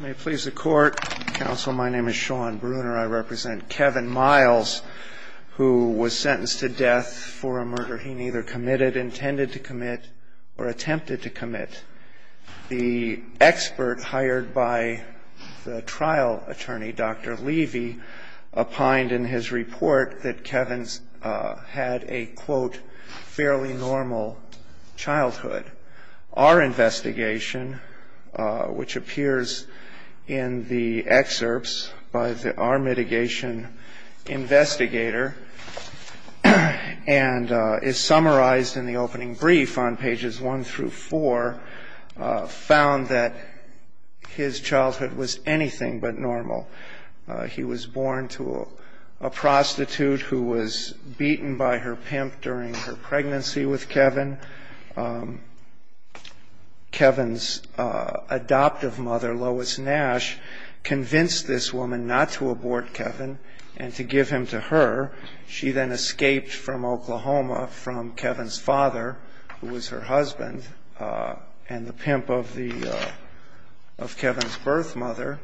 May it please the court, counsel, my name is Sean Bruner. I represent Kevin Miles, who was sentenced to death for a murder he neither committed, intended to commit, or attempted to commit. The expert hired by the trial attorney, Dr. Levy, opined in his report that Kevin had a, quote, fairly normal childhood. Our investigation, which appears in the excerpts by our mitigation investigator, and is summarized in the opening brief on pages 1 through 4, found that his childhood was anything but normal. He was born to a prostitute who was beaten by her pimp during her pregnancy with Kevin. Kevin's adoptive mother, Lois Nash, convinced this woman not to abort Kevin and to give him to her. She then escaped from Oklahoma from Kevin's father, who was her husband, and the pimp of Kevin's birth mother.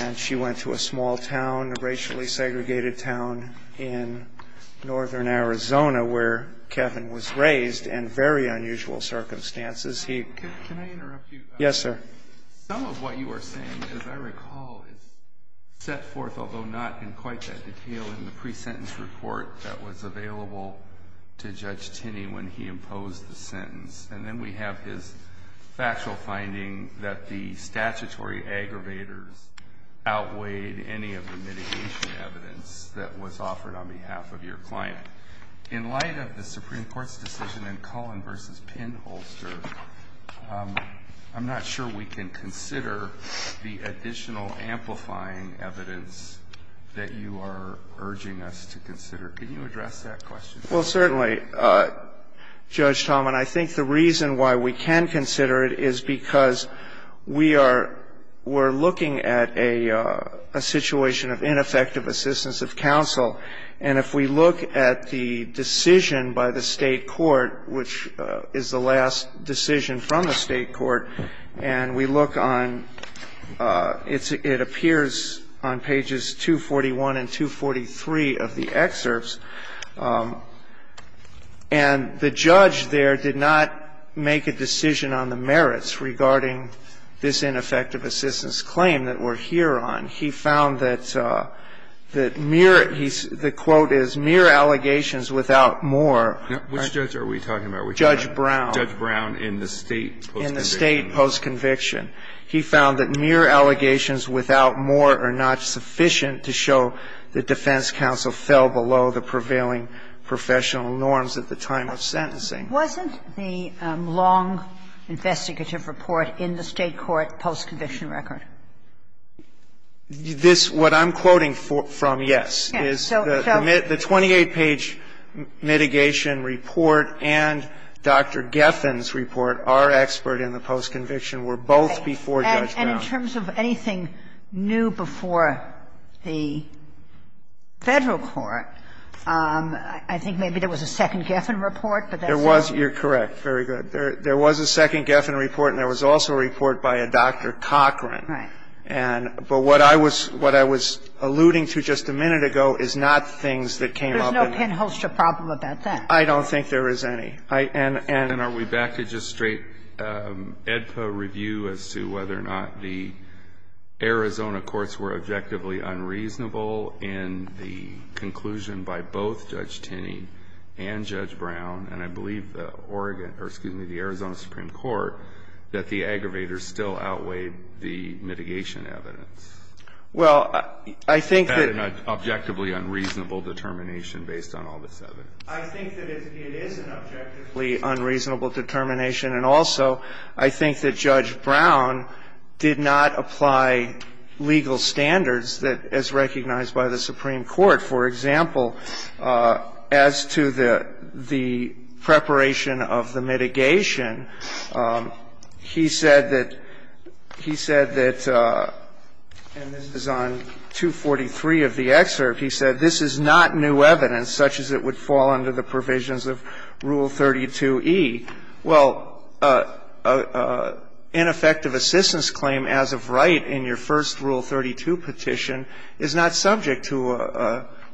And she went to a small town, a racially segregated town in northern Arizona, where Kevin was raised in very unusual circumstances. Can I interrupt you? Yes, sir. Some of what you are saying, as I recall, is set forth, although not in quite that detail, in the presentence report that was available to Judge Tinney when he imposed the sentence. And then we have his factual finding that the statutory aggravators outweighed any of the mitigation evidence thought was offered on behalf of your client. In light of the Supreme Court's decision in Cullen v. Pinholster, I'm not sure we can consider the additional amplifying evidence that you are urging us to consider. Can you address that question for us? Well, certainly, Judge Talman. I think the reason why we can consider it is because we are looking at a situation of ineffective assistance of counsel. And if we look at the decision by the State court, which is the last decision from the State court, and we look on – it appears on pages 241 and 243 of the excerpts. And the judge there did not make a decision on the merits regarding this ineffective assistance claim that we're here on. He found that mere – the quote is, "'Mere allegations without more'--" Which judge are we talking about? Judge Brown. Judge Brown in the State post-conviction. In the State post-conviction. He found that mere allegations without more are not sufficient to show the defense counsel fell below the prevailing professional norms at the time of sentencing. Wasn't the long investigative report in the State court post-conviction record? This – what I'm quoting from, yes, is the 28-page mitigation report and Dr. Geffen's report, our expert in the post-conviction, were both before Judge Brown. And in terms of anything new before the Federal court, I think maybe there was a second Geffen report, but that's all we know. You're correct. Very good. There was a second Geffen report, and there was also a report by a Dr. Cochran. Right. And – but what I was alluding to just a minute ago is not things that came up in that. There's no pinhole-strip problem about that. I don't think there is any. And are we back to just straight AEDPA review as to whether or not the Arizona courts were objectively unreasonable in the conclusion by both Judge Tinney and Judge Brown, and I believe the Oregon – or, excuse me, the Arizona Supreme Court, that the aggravators still outweighed the mitigation evidence? Well, I think that – Is that an objectively unreasonable determination based on all this evidence? I think that it is an objectively unreasonable determination, and also, I think that Judge Brown did not apply legal standards as recognized by the Supreme Court. In the case of the – the Arizona Supreme Court, for example, as to the preparation of the mitigation, he said that – he said that – and this is on 243 of the excerpt – he said, This is not new evidence such as it would fall under the provisions of Rule 32e. Well, ineffective assistance claim as of right in your first Rule 32 petition is not subject to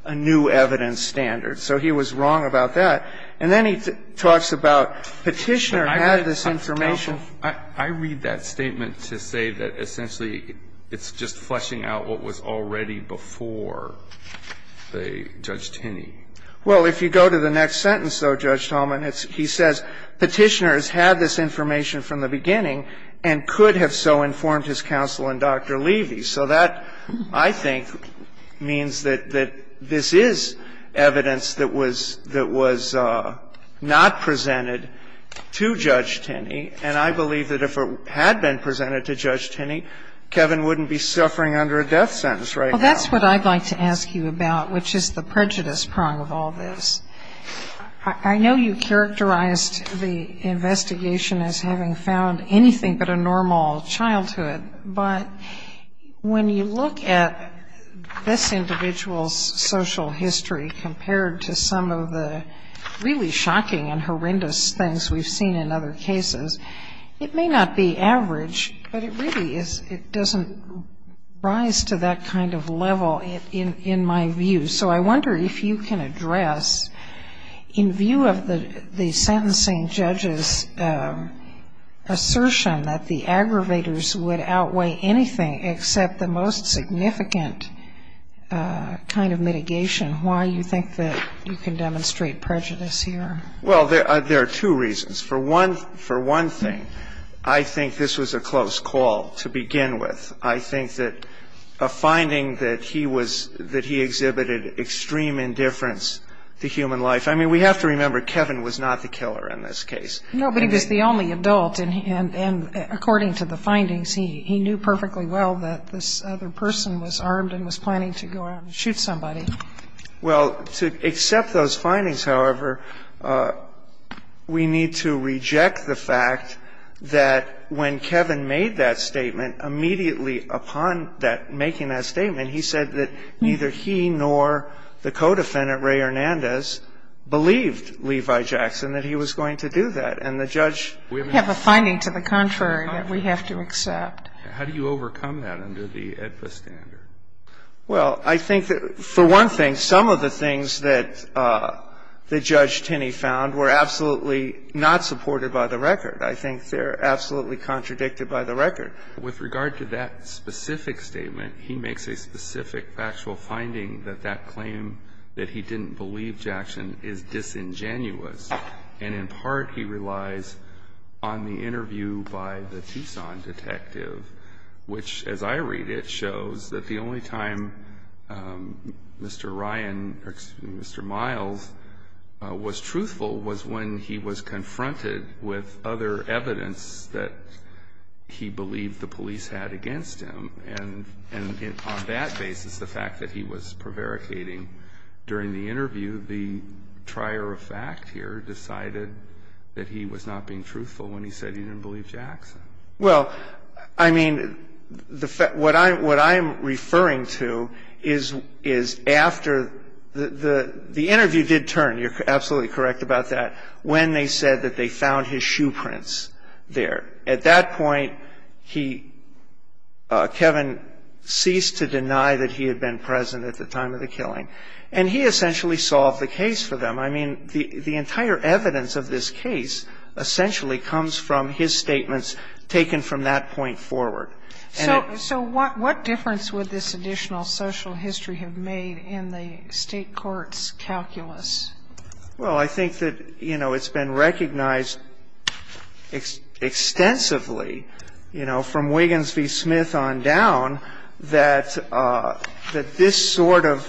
a new evidence standard. So he was wrong about that. And then he talks about Petitioner had this information. I read that statement to say that essentially it's just fleshing out what was already before Judge Tinney. Well, if you go to the next sentence, though, Judge Talman, it's – he says, Petitioner has had this information from the beginning and could have so informed his counsel in Dr. Levy. So that, I think, means that this is evidence that was – that was not presented to Judge Tinney, and I believe that if it had been presented to Judge Tinney, Kevin wouldn't be suffering under a death sentence right now. Well, that's what I'd like to ask you about, which is the prejudice prong of all this. I know you characterized the investigation as having found anything but a normal childhood, but when you look at this individual's social history compared to some of the really shocking and horrendous things we've seen in other cases, it may not be average, but it really is – it doesn't rise to that kind of level in my view. So I wonder if you can address, in view of the sentencing judge's assertion that the aggravators would outweigh anything except the most significant kind of mitigation, why you think that you can demonstrate prejudice here. Well, there are two reasons. For one thing, I think this was a close call to begin with. I think that a finding that he was – that he exhibited extreme indifference to human life – I mean, we have to remember Kevin was not the killer in this case. No, but he was the only adult, and according to the findings, he knew perfectly well that this other person was armed and was planning to go out and shoot somebody. Well, to accept those findings, however, we need to reject the fact that when Kevin made that statement, immediately upon that – making that statement, he said that neither he nor the co-defendant, Ray Hernandez, believed Levi Jackson that he was going to do that. And the judge – We have a finding to the contrary that we have to accept. How do you overcome that under the AEDPA standard? Well, I think that, for one thing, some of the things that Judge Tinney found were absolutely not supported by the record. I think they're absolutely contradicted by the record. With regard to that specific statement, he makes a specific factual finding that that claim that he didn't believe Jackson is disingenuous. And in part, he relies on the interview by the Tucson detective, which, as I read it, shows that the only time Mr. Ryan – or, excuse me, Mr. Miles – was truthful was when he was confronted with other evidence that he believed the police had against him. And on that basis, the fact that he was prevaricating during the interview, the trier of truth, is that he was not being truthful when he said he didn't believe Jackson. Well, I mean, the fact – what I'm referring to is after the interview did turn – you're absolutely correct about that – when they said that they found his shoe prints there. At that point, he – Kevin ceased to deny that he had been present at the time of the killing. And he essentially solved the case for them. I mean, the entire evidence of this case essentially comes from his statements taken from that point forward. So what difference would this additional social history have made in the State court's calculus? Well, I think that, you know, it's been recognized extensively, you know, from Wiggins v. Smith on down, that this sort of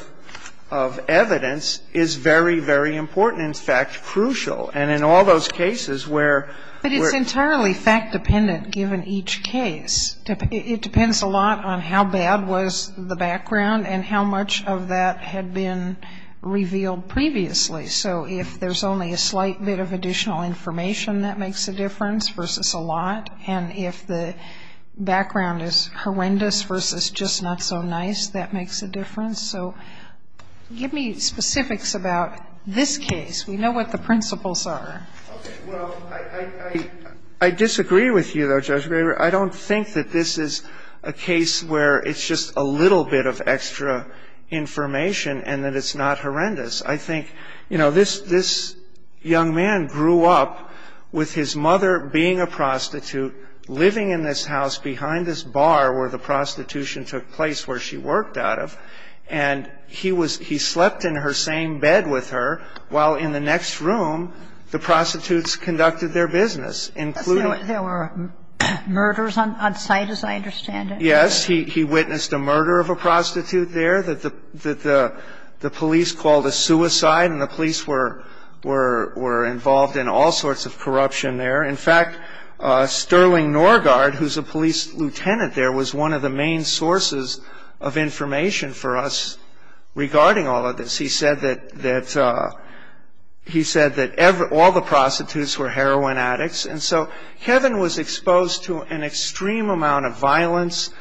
evidence is very, very important. In fact, crucial. And in all those cases where – But it's entirely fact-dependent given each case. It depends a lot on how bad was the background and how much of that had been revealed previously. So if there's only a slight bit of additional information, that makes a difference versus a lot. And if the background is horrendous versus just not so nice, that makes a difference. So give me specifics about this case. We know what the principles are. Okay. Well, I disagree with you, though, Judge Braber. I don't think that this is a case where it's just a little bit of extra information and that it's not horrendous. I think, you know, this young man grew up with his mother being a prostitute, living in this house behind this bar where the prostitution took place, where she worked out of, and he slept in her same bed with her while in the next room the prostitutes conducted their business, including – There were murders on site, as I understand it. Yes. He witnessed a murder of a prostitute there that the police called a suicide, and the police were involved in all sorts of corruption there. In fact, Sterling Norgard, who's a police lieutenant there, was one of the main sources of information for us regarding all of this. He said that all the prostitutes were heroin addicts. And so Kevin was exposed to an extreme amount of violence,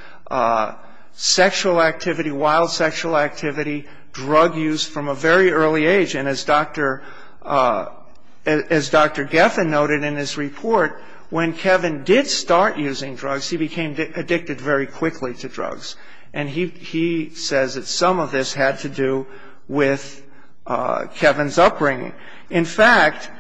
sexual activity, wild sexual activity, drug use from a very early age. And as Dr. Geffen noted in his report, when Kevin did start using drugs, he became addicted very quickly to drugs. And he says that some of this had to do with Kevin's upbringing. In fact,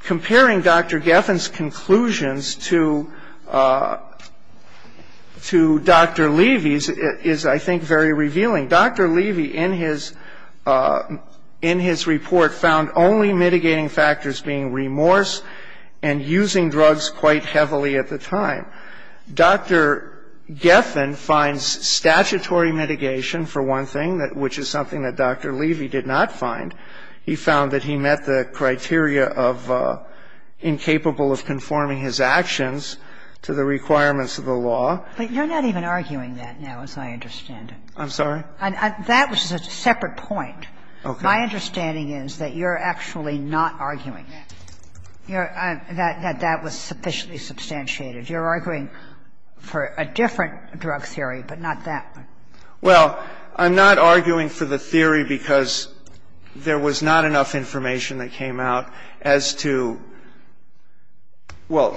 comparing Dr. Geffen's conclusions to Dr. Levy's is, I think, very revealing. Dr. Levy, in his report, found only mitigating factors being remorse and using drugs quite heavily at the time. Dr. Geffen finds statutory mitigation for one thing, which is something that Dr. Levy did not find. He found that he met the criteria of incapable of conforming his actions to the requirements of the law. But you're not even arguing that now, as I understand it. I'm sorry? That was a separate point. Okay. My understanding is that you're actually not arguing that. That that was sufficiently substantiated. You're arguing for a different drug theory, but not that one. Well, I'm not arguing for the theory because there was not enough information that came out as to – well,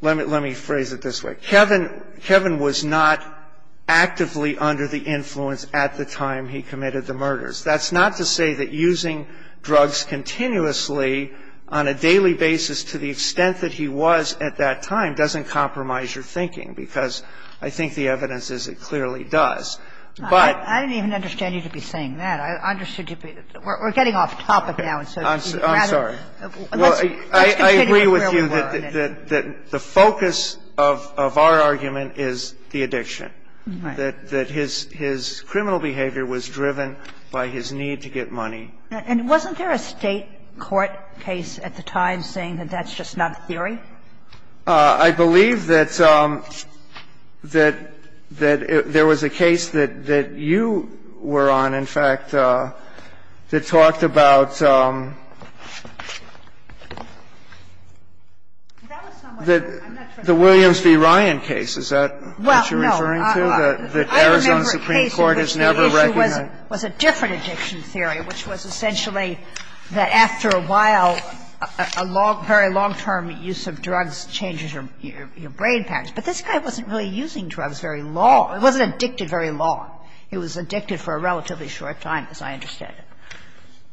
let me phrase it this way. Kevin was not actively under the influence at the time he committed the murders. That's not to say that using drugs continuously on a daily basis to the extent that he was at that time doesn't compromise your thinking, because I think the evidence is it clearly does. But – I didn't even understand you to be saying that. I understood you to be – we're getting off topic now. I'm sorry. Well, I agree with you that the focus of our argument is the addiction. Right. And that his criminal behavior was driven by his need to get money. And wasn't there a State court case at the time saying that that's just not a theory? I believe that there was a case that you were on, in fact, that talked about the Williams v. Ryan case. Is that what you're referring to? I remember a case in which the issue was a different addiction theory, which was essentially that after a while, a very long-term use of drugs changes your brain patterns. But this guy wasn't really using drugs very long. He wasn't addicted very long. He was addicted for a relatively short time, as I understand it.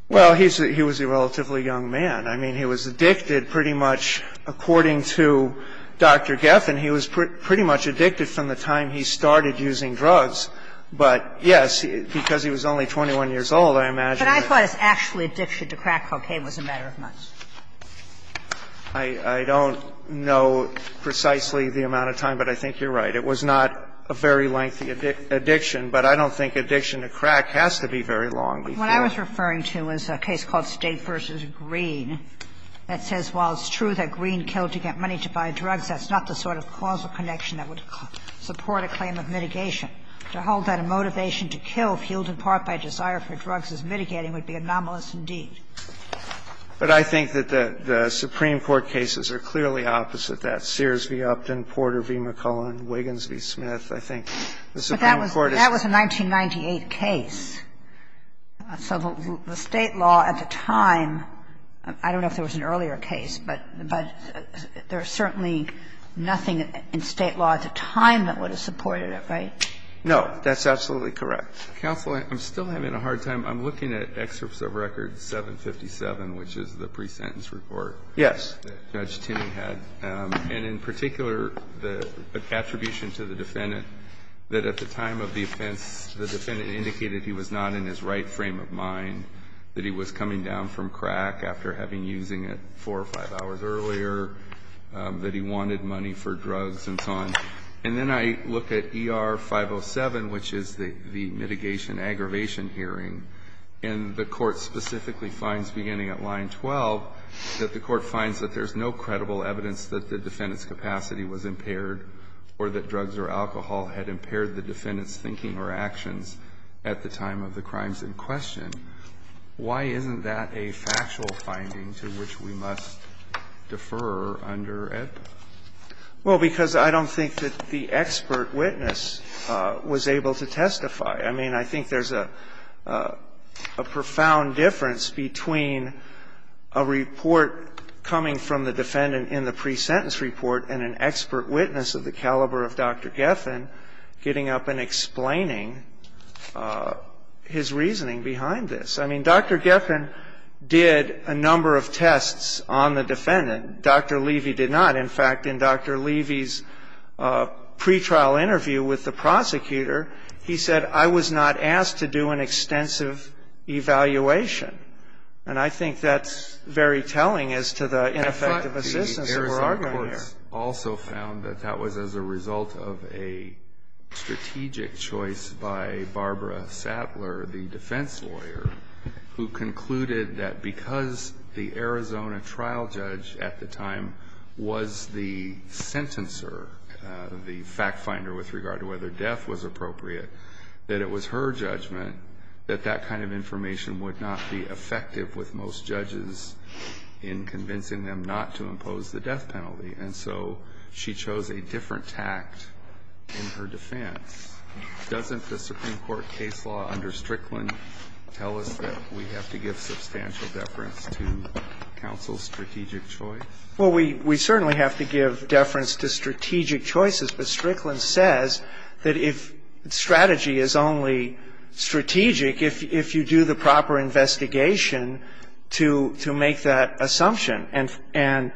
Well, he was a relatively young man. I mean, he was addicted pretty much according to Dr. Geffen. He was pretty much addicted from the time he started using drugs. But, yes, because he was only 21 years old, I imagine that – But I thought his actual addiction to crack cocaine was a matter of months. I don't know precisely the amount of time, but I think you're right. It was not a very lengthy addiction, but I don't think addiction to crack has to be very long. What I was referring to is a case called State v. Green that says while it's true that there was a causal connection that would support a claim of mitigation, to hold that a motivation to kill fueled in part by desire for drugs as mitigating would be anomalous indeed. But I think that the Supreme Court cases are clearly opposite that. Sears v. Upton, Porter v. McClellan, Wiggins v. Smith. I think the Supreme Court is – But that was a 1998 case. So the State law at the time – I don't know if there was an earlier case, but there was certainly nothing in State law at the time that would have supported it, right? No. That's absolutely correct. Counsel, I'm still having a hard time. I'm looking at excerpts of record 757, which is the pre-sentence report. Yes. That Judge Timming had. And in particular, the attribution to the defendant that at the time of the offense, the defendant indicated he was not in his right frame of mind, that he was coming down from crack after having been using it four or five hours earlier, that he wanted money for drugs and so on. And then I look at ER 507, which is the mitigation aggravation hearing. And the Court specifically finds, beginning at line 12, that the Court finds that there's no credible evidence that the defendant's capacity was impaired or that drugs or alcohol had impaired the defendant's thinking or actions at the time of the crimes in question. Why isn't that a factual finding to which we must defer under EBP? Well, because I don't think that the expert witness was able to testify. I mean, I think there's a profound difference between a report coming from the defendant in the pre-sentence report and an expert witness of the caliber of Dr. Geffen getting up and explaining his reasoning behind this. I mean, Dr. Geffen did a number of tests on the defendant. Dr. Levy did not. In fact, in Dr. Levy's pretrial interview with the prosecutor, he said, I was not asked to do an extensive evaluation. And I think that's very telling as to the ineffective assistance that we're arguing here. I also found that that was as a result of a strategic choice by Barbara Sattler, the defense lawyer, who concluded that because the Arizona trial judge at the time was the sentencer, the fact finder with regard to whether death was appropriate, that it was her judgment that that kind of information would not be effective with most judges in convincing them not to impose the death penalty. And so she chose a different tact in her defense. Doesn't the Supreme Court case law under Strickland tell us that we have to give substantial deference to counsel's strategic choice? Well, we certainly have to give deference to strategic choices, but Strickland says that if strategy is only strategic, if you do the proper investigation to make that assumption. And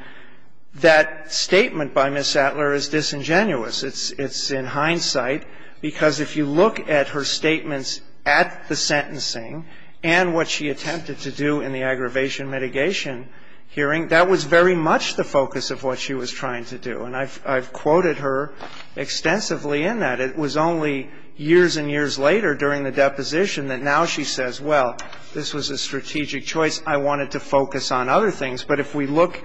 that statement by Ms. Sattler is disingenuous. It's in hindsight, because if you look at her statements at the sentencing and what she attempted to do in the aggravation mitigation hearing, that was very much the focus of what she was trying to do. And I've quoted her extensively in that. It was only years and years later during the deposition that now she says, well, this was a strategic choice. I wanted to focus on other things. But if we look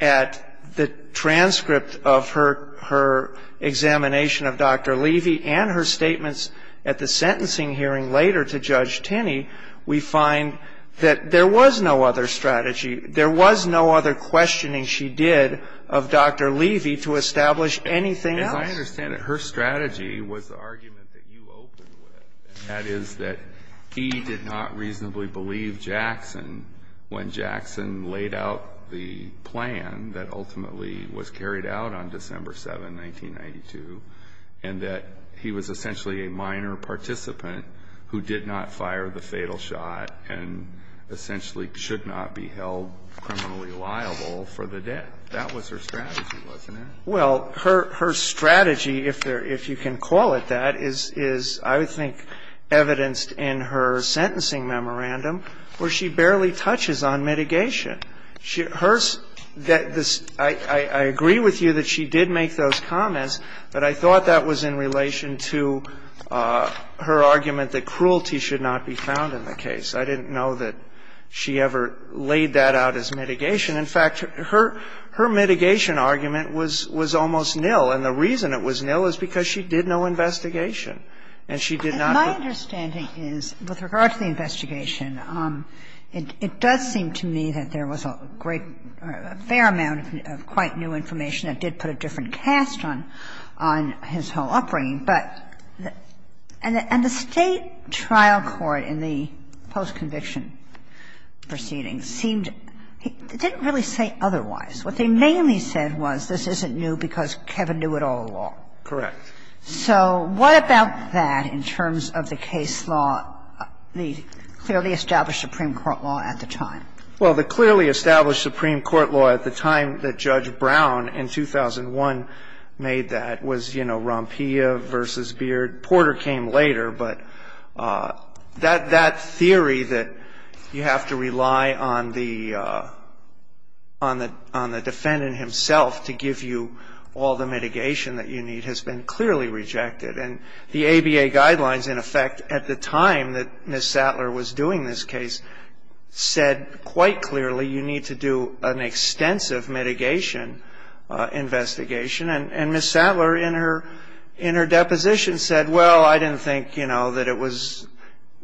at the transcript of her examination of Dr. Levy and her statements at the sentencing hearing later to Judge Tinney, we find that there was no other strategy, there was no other questioning she did of Dr. Levy to establish anything else. As I understand it, her strategy was the argument that you opened with, and that is that he did not reasonably believe Jackson when Jackson laid out the plan that ultimately was carried out on December 7, 1992, and that he was essentially a minor participant who did not fire the fatal shot and essentially should not be held criminally liable for the death. That was her strategy, wasn't it? Well, her strategy, if you can call it that, is I think evidenced in her sentencing memorandum where she barely touches on mitigation. I agree with you that she did make those comments, but I thought that was in relation to her argument that cruelty should not be found in the case. I didn't know that she ever laid that out as mitigation. In fact, her mitigation argument was almost nil, and the reason it was nil is because she did no investigation, and she did not. My understanding is, with regard to the investigation, it does seem to me that there was a great or a fair amount of quite new information that did put a different cast on his whole upbringing, but the State trial court in the post-conviction proceedings didn't really say otherwise. What they mainly said was this isn't new because Kevin knew it all along. Correct. So what about that in terms of the case law, the clearly established Supreme Court law at the time? Well, the clearly established Supreme Court law at the time that Judge Brown in 2001 made that was, you know, Rompilla v. Beard. Porter came later, but that theory that you have to rely on the defendant himself to give you all the mitigation that you need has been clearly rejected, and the ABA guidelines, in effect, at the time that Ms. Sattler was doing this case said quite clearly you need to do an extensive mitigation investigation, and Ms. Sattler, in her deposition, said, well, I didn't think, you know, that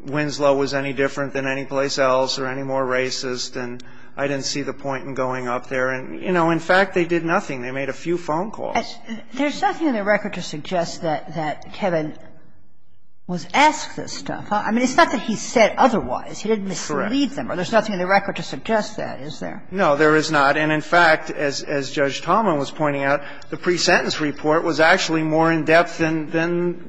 Winslow was any different than any place else or any more racist, and I didn't see the point in going up there. And, you know, in fact, they did nothing. They made a few phone calls. There's nothing in the record to suggest that Kevin was asked this stuff. I mean, it's not that he said otherwise. He didn't mislead them. Correct. Or there's nothing in the record to suggest that, is there? No, there is not. And in fact, as Judge Talman was pointing out, the pre-sentence report was actually more in-depth than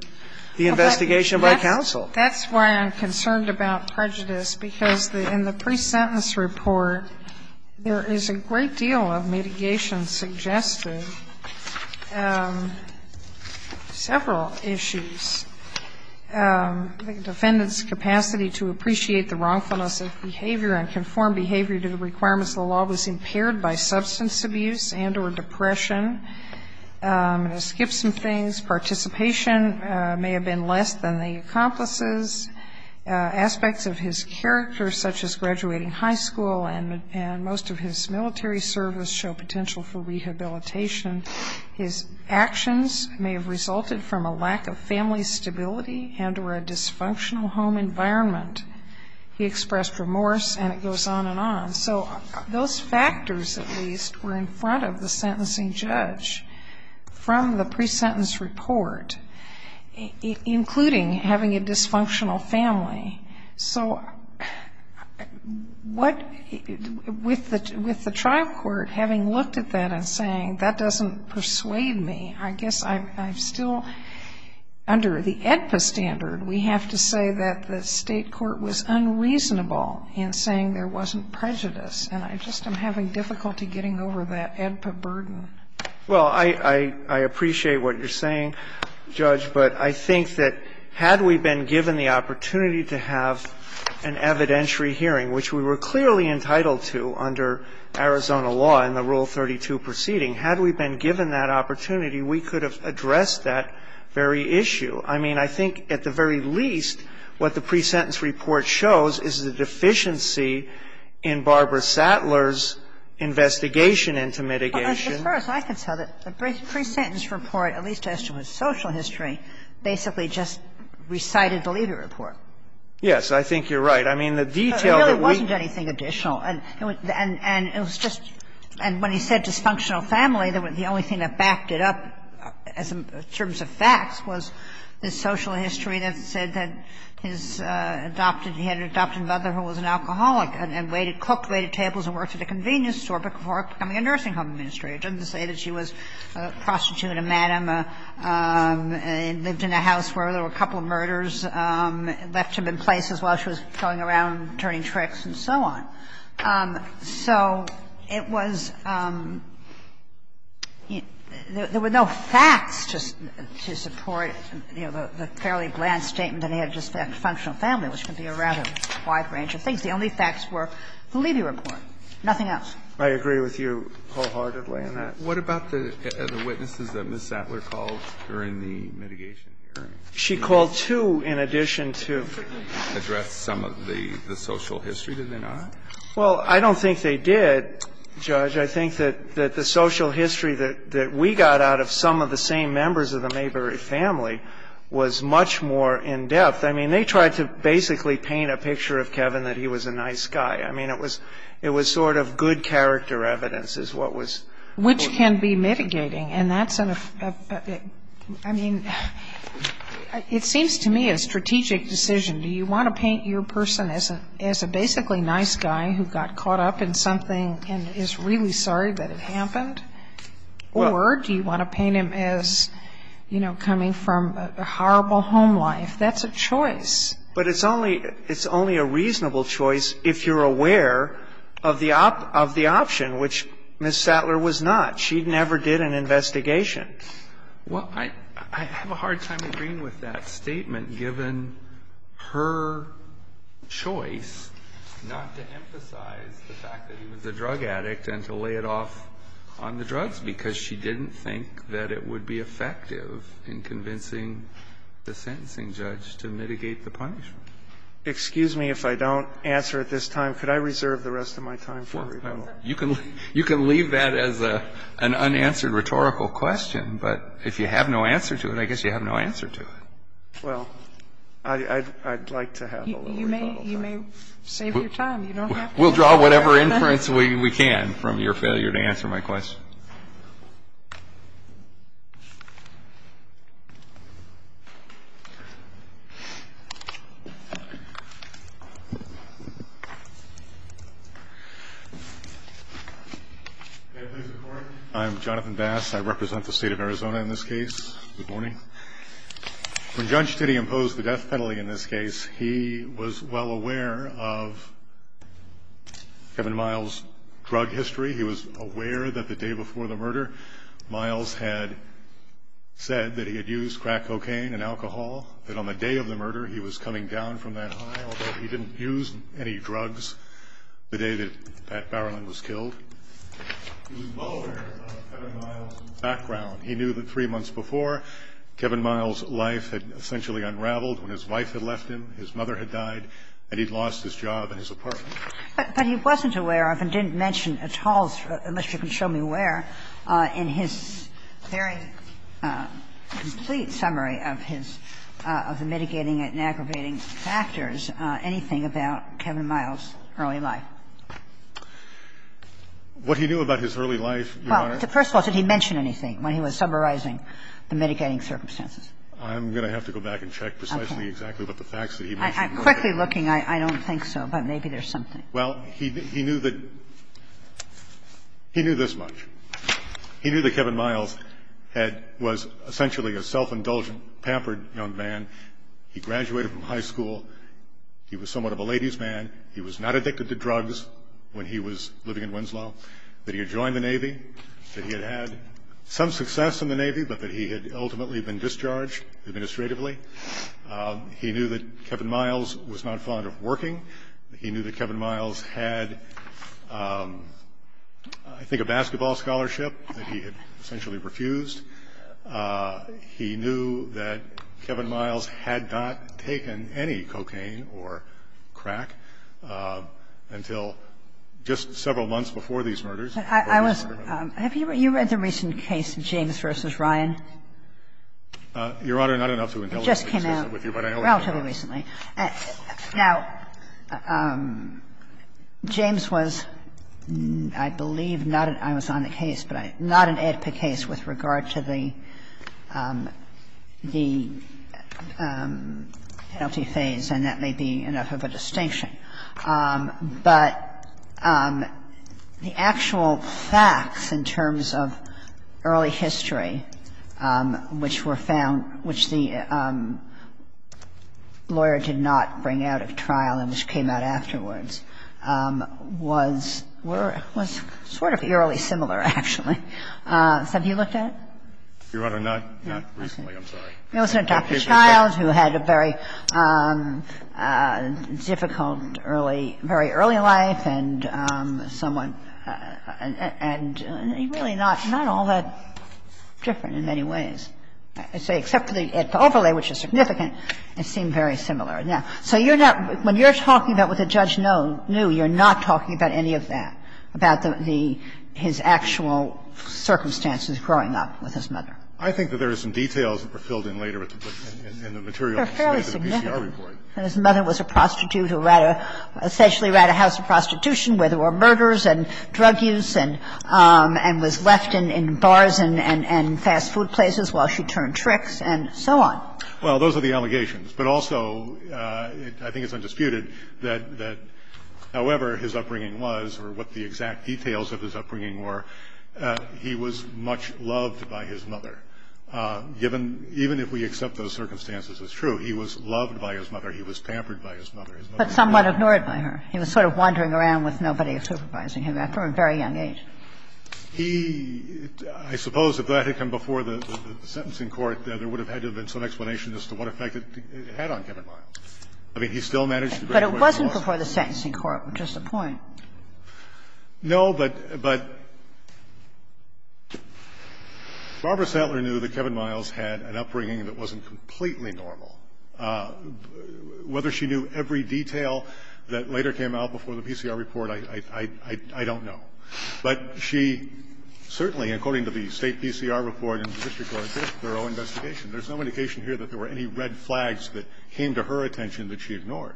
the investigation by counsel. That's why I'm concerned about prejudice, because in the pre-sentence report, there is a great deal of mitigation suggested, several issues. The defendant's capacity to appreciate the wrongfulness of behavior and conform behavior to the requirements of the law was impaired by substance abuse and or depression. I'm going to skip some things. Participation may have been less than the accomplice's. Aspects of his character, such as graduating high school and most of his military service, show potential for rehabilitation. His actions may have resulted from a lack of family stability and or a dysfunctional home environment. He expressed remorse, and it goes on and on. So those factors, at least, were in front of the sentencing judge from the pre-sentence report, including having a dysfunctional family. So with the trial court having looked at that and saying, that doesn't persuade me, I guess I'm still under the AEDPA standard. We have to say that the State court was unreasonable in saying there wasn't prejudice, and I just am having difficulty getting over that AEDPA burden. Well, I appreciate what you're saying, Judge, but I think that had we been given the opportunity to have an evidentiary hearing, which we were clearly entitled to under Arizona law in the Rule 32 proceeding, had we been given that opportunity, we could have addressed that very issue. I mean, I think at the very least, what the pre-sentence report shows is the deficiency in Barbara Sattler's investigation into mitigation. But as far as I can tell, the pre-sentence report, at least as to his social history, basically just recited the legal report. Yes. I think you're right. I mean, the detail that we ---- But there really wasn't anything additional. And it was just ñ and when he said dysfunctional family, the only thing that backed it up in terms of facts was the social history that said that his adopted ñ he had an adopted mother who was an alcoholic and waited, cooked, waited tables and worked at a convenience store before becoming a nursing home administrator, didn't say that she was a prostitute, a madam, lived in a house where there were a couple of murders, left him in places while she was going around turning tricks and so on. So it was ñ there were no facts to support, you know, the fairly bland statement that he had a dysfunctional family, which can be a rather wide range of things. The only facts were the legal report, nothing else. I agree with you wholeheartedly on that. What about the witnesses that Ms. Sattler called during the mitigation hearing? She called two in addition to ñ Address some of the social history. Did they not? Well, I don't think they did, Judge. I think that the social history that we got out of some of the same members of the Mayberry family was much more in-depth. I mean, they tried to basically paint a picture of Kevin that he was a nice guy. I mean, it was sort of good character evidence is what was ñ Which can be mitigating. And that's an ñ I mean, it seems to me a strategic decision. Do you want to paint your person as a basically nice guy who got caught up in something and is really sorry that it happened? Or do you want to paint him as, you know, coming from a horrible home life? That's a choice. But it's only ñ it's only a reasonable choice if you're aware of the option, which Ms. Sattler was not. She never did an investigation. Well, I have a hard time agreeing with that statement, given her choice not to emphasize the fact that he was a drug addict and to lay it off on the drugs, because she didn't think that it would be effective in convincing the sentencing judge to mitigate the punishment. Excuse me if I don't answer at this time. Could I reserve the rest of my time for rebuttal? You can leave that as an unanswered rhetorical question. But if you have no answer to it, I guess you have no answer to it. Well, I'd like to have a little rebuttal time. You may save your time. You don't have to answer. We'll draw whatever inference we can from your failure to answer my question. May I please record? I'm Jonathan Bass. I represent the State of Arizona in this case. Good morning. When Judge Tiddy imposed the death penalty in this case, he was well aware of Kevin Miles' drug history. He was aware that the day before the murder, Miles had said that he had used crack cocaine and alcohol, that on the day of the murder, he was coming down from that high, although he didn't use any drugs the day that Pat Barrowland was killed. He was well aware of Kevin Miles' background. He knew that three months before, Kevin Miles' life had essentially unraveled when his wife had left him, his mother had died, and he'd lost his job and his apartment. But he wasn't aware of, and didn't mention at all, unless you can show me where, in his very complete summary of his – of the mitigating and aggravating factors, anything about Kevin Miles' early life. What he knew about his early life, Your Honor? Well, first of all, did he mention anything when he was summarizing the mitigating circumstances? I'm going to have to go back and check precisely exactly what the facts that he mentioned were. I'm quickly looking. I don't think so, but maybe there's something. Well, he knew that – he knew this much. He knew that Kevin Miles had – was essentially a self-indulgent, pampered young man. He graduated from high school. He was somewhat of a lady's man. He was not addicted to drugs when he was living in Winslow, that he had joined the Navy, that he had had some success in the Navy, but that he had ultimately been discharged administratively. He knew that Kevin Miles was not fond of working. He knew that Kevin Miles had, I think, a basketball scholarship that he had essentially refused. He knew that Kevin Miles had not taken any cocaine or crack until just several months before these murders. I was – have you read the recent case of James v. Ryan? Your Honor, not enough to intelligence. It just came out relatively recently. Now, James was, I believe, not an – I was on the case, but not an AEDPA case with regard to the penalty phase, and that may be enough of a distinction. But the actual facts in terms of early history, which were found – which the AEDPA lawyer did not bring out of trial and which came out afterwards, was sort of eerily similar, actually. Have you looked at it? Your Honor, not recently. I'm sorry. It wasn't a doctor's child who had a very difficult early – very early life, and someone – and really not all that different in many ways, except for the AEDPA overlay, which is significant. It seemed very similar. Now, so you're not – when you're talking about what the judge knew, you're not talking about any of that, about the – his actual circumstances growing up with his mother. I think that there are some details that were filled in later in the material submitted to the PCR report. They're fairly significant. And his mother was a prostitute who essentially ran a house of prostitution where there were murders and drug use and was left in bars and fast food places while she turned tricks and so on. Well, those are the allegations. But also, I think it's undisputed that however his upbringing was or what the exact details of his upbringing were, he was much loved by his mother. Given – even if we accept those circumstances as true, he was loved by his mother. He was pampered by his mother. But somewhat ignored by her. He was sort of wandering around with nobody supervising him after a very young age. He – I suppose if that had come before the sentencing court, there would have had to have been some explanation as to what effect it had on Kevin Miles. I mean, he still managed to bring the question to us. But it wasn't before the sentencing court, which is the point. No, but – but Barbara Sattler knew that Kevin Miles had an upbringing that wasn't completely normal. Whether she knew every detail that later came out before the PCR report, I – I don't know. But she certainly, according to the State PCR report and the District Court Fiscal Bureau investigation, there's no indication here that there were any red flags that came to her attention that she ignored.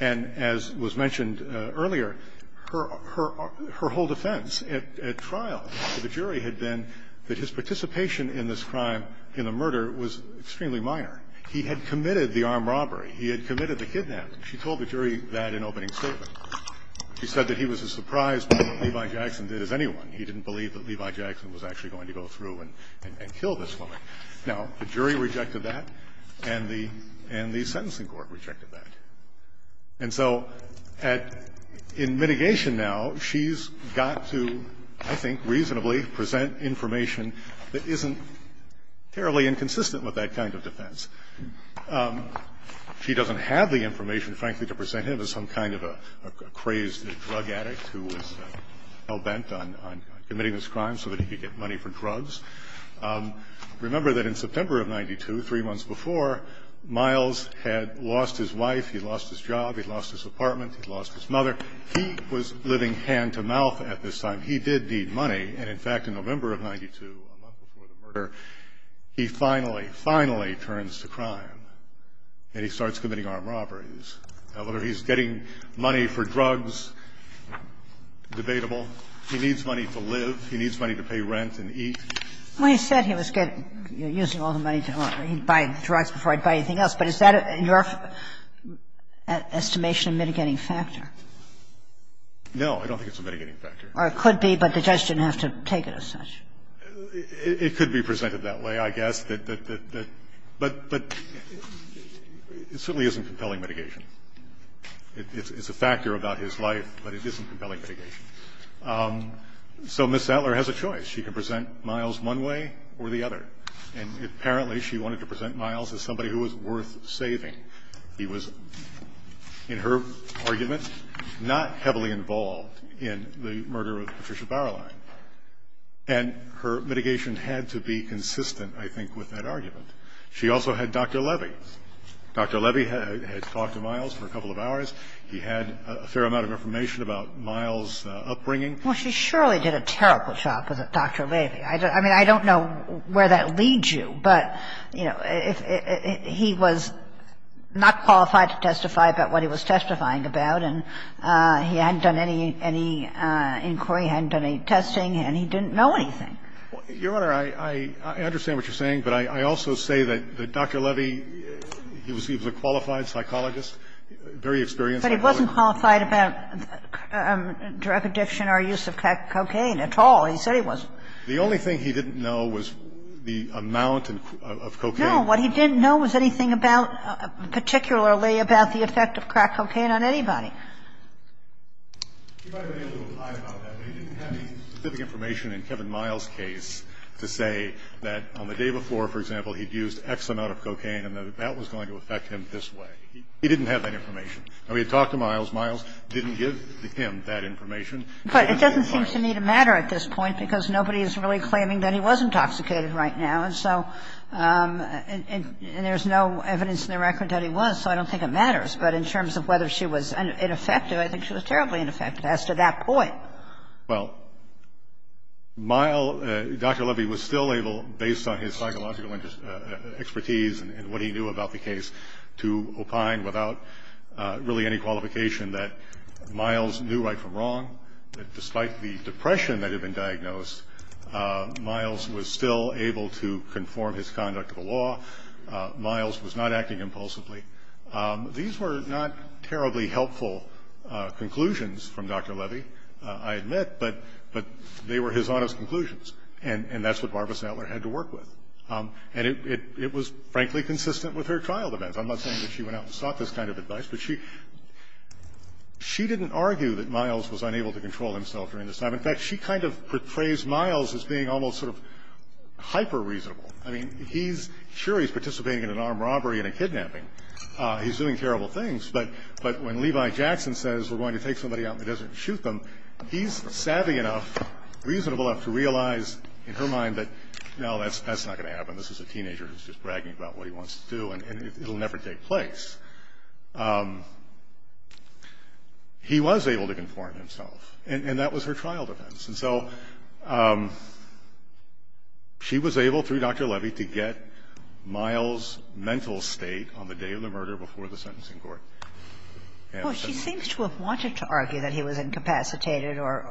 And as was mentioned earlier, her – her – her whole defense at – at trial to the jury had been that his participation in this crime, in the murder, was extremely minor. He had committed the armed robbery. He had committed the kidnapping. She told the jury that in opening statement. She said that he was as surprised by what Levi Jackson did as anyone. He didn't believe that Levi Jackson was actually going to go through and – and kill this woman. Now, the jury rejected that and the – and the sentencing court rejected that. And so at – in mitigation now, she's got to, I think reasonably, present information that isn't terribly inconsistent with that kind of defense. She doesn't have the information, frankly, to present him as some kind of a crazed drug addict who was hell-bent on – on committing this crime so that he could get money for drugs. Remember that in September of 92, three months before, Miles had lost his wife. He lost his job. He lost his apartment. He lost his mother. He was living hand-to-mouth at this time. He did need money. And in fact, in November of 92, a month before the murder, he finally, finally turns to crime. And he starts committing armed robberies. Now, whether he's getting money for drugs, debatable. He needs money to live. He needs money to pay rent and eat. When he said he was getting – using all the money to buy drugs before he'd buy anything else, but is that your estimation of mitigating factor? No. I don't think it's a mitigating factor. Or it could be, but the judge didn't have to take it as such. It could be presented that way, I guess. But – but it certainly isn't compelling mitigation. It's a factor about his life, but it isn't compelling mitigation. So Ms. Sattler has a choice. She can present Miles one way or the other. And apparently, she wanted to present Miles as somebody who was worth saving. He was, in her argument, not heavily involved in the murder of Patricia Bauerlein. And her mitigation had to be consistent, I think, with that argument. She also had Dr. Levy. Dr. Levy had talked to Miles for a couple of hours. He had a fair amount of information about Miles' upbringing. Well, she surely did a terrible job with Dr. Levy. I mean, I don't know where that leads you. But, you know, he was not qualified to testify about what he was testifying about, and he hadn't done any inquiry, hadn't done any testing, and he didn't know anything. Your Honor, I understand what you're saying, but I also say that Dr. Levy, he was a qualified psychologist, very experienced psychologist. But he wasn't qualified about drug addiction or use of crack cocaine at all. He said he wasn't. The only thing he didn't know was the amount of cocaine. No. What he didn't know was anything about, particularly about the effect of crack cocaine on anybody. He might have been able to apply about that, but he didn't have any specific information in Kevin Miles' case to say that on the day before, for example, he'd used X amount of cocaine and that that was going to affect him this way. He didn't have that information. Now, we had talked to Miles. Miles didn't give him that information. But it doesn't seem to me to matter at this point, because nobody is really claiming that he was intoxicated right now. And so, and there's no evidence in the record that he was, so I don't think it matters. But in terms of whether she was ineffective, I think she was terribly ineffective as to that point. Well, Dr. Levy was still able, based on his psychological expertise and what he knew about the case, to opine without really any qualification that Miles knew right from wrong, that despite the depression that had been diagnosed, Miles was still able to conform his conduct to the law. Miles was not acting impulsively. These were not terribly helpful conclusions from Dr. Levy. I admit, but they were his honest conclusions, and that's what Barbara Sattler had to work with. And it was, frankly, consistent with her trial defense. I'm not saying that she went out and sought this kind of advice, but she didn't argue that Miles was unable to control himself during this time. In fact, she kind of portrays Miles as being almost sort of hyper-reasonable. I mean, he's sure he's participating in an armed robbery and a kidnapping. He's doing terrible things. But when Levi Jackson says, we're going to take somebody out in the desert and shoot them, he's savvy enough, reasonable enough, to realize in her mind that, no, that's not going to happen. This is a teenager who's just bragging about what he wants to do, and it'll never take place. He was able to conform himself, and that was her trial defense. And so she was able, through Dr. Levy, to get Miles' mental state on the day of the Well, she seems to have wanted to argue that he was incapacitated or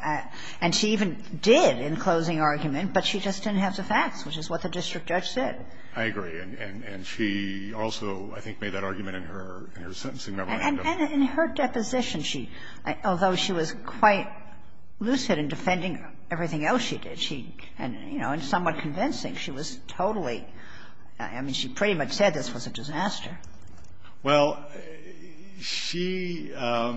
at — and she even did in closing argument, but she just didn't have the facts, which is what the district judge said. I agree. And she also, I think, made that argument in her sentencing memo. And in her deposition, she — although she was quite lucid in defending everything else she did, she — and, you know, somewhat convincing. Well, she — I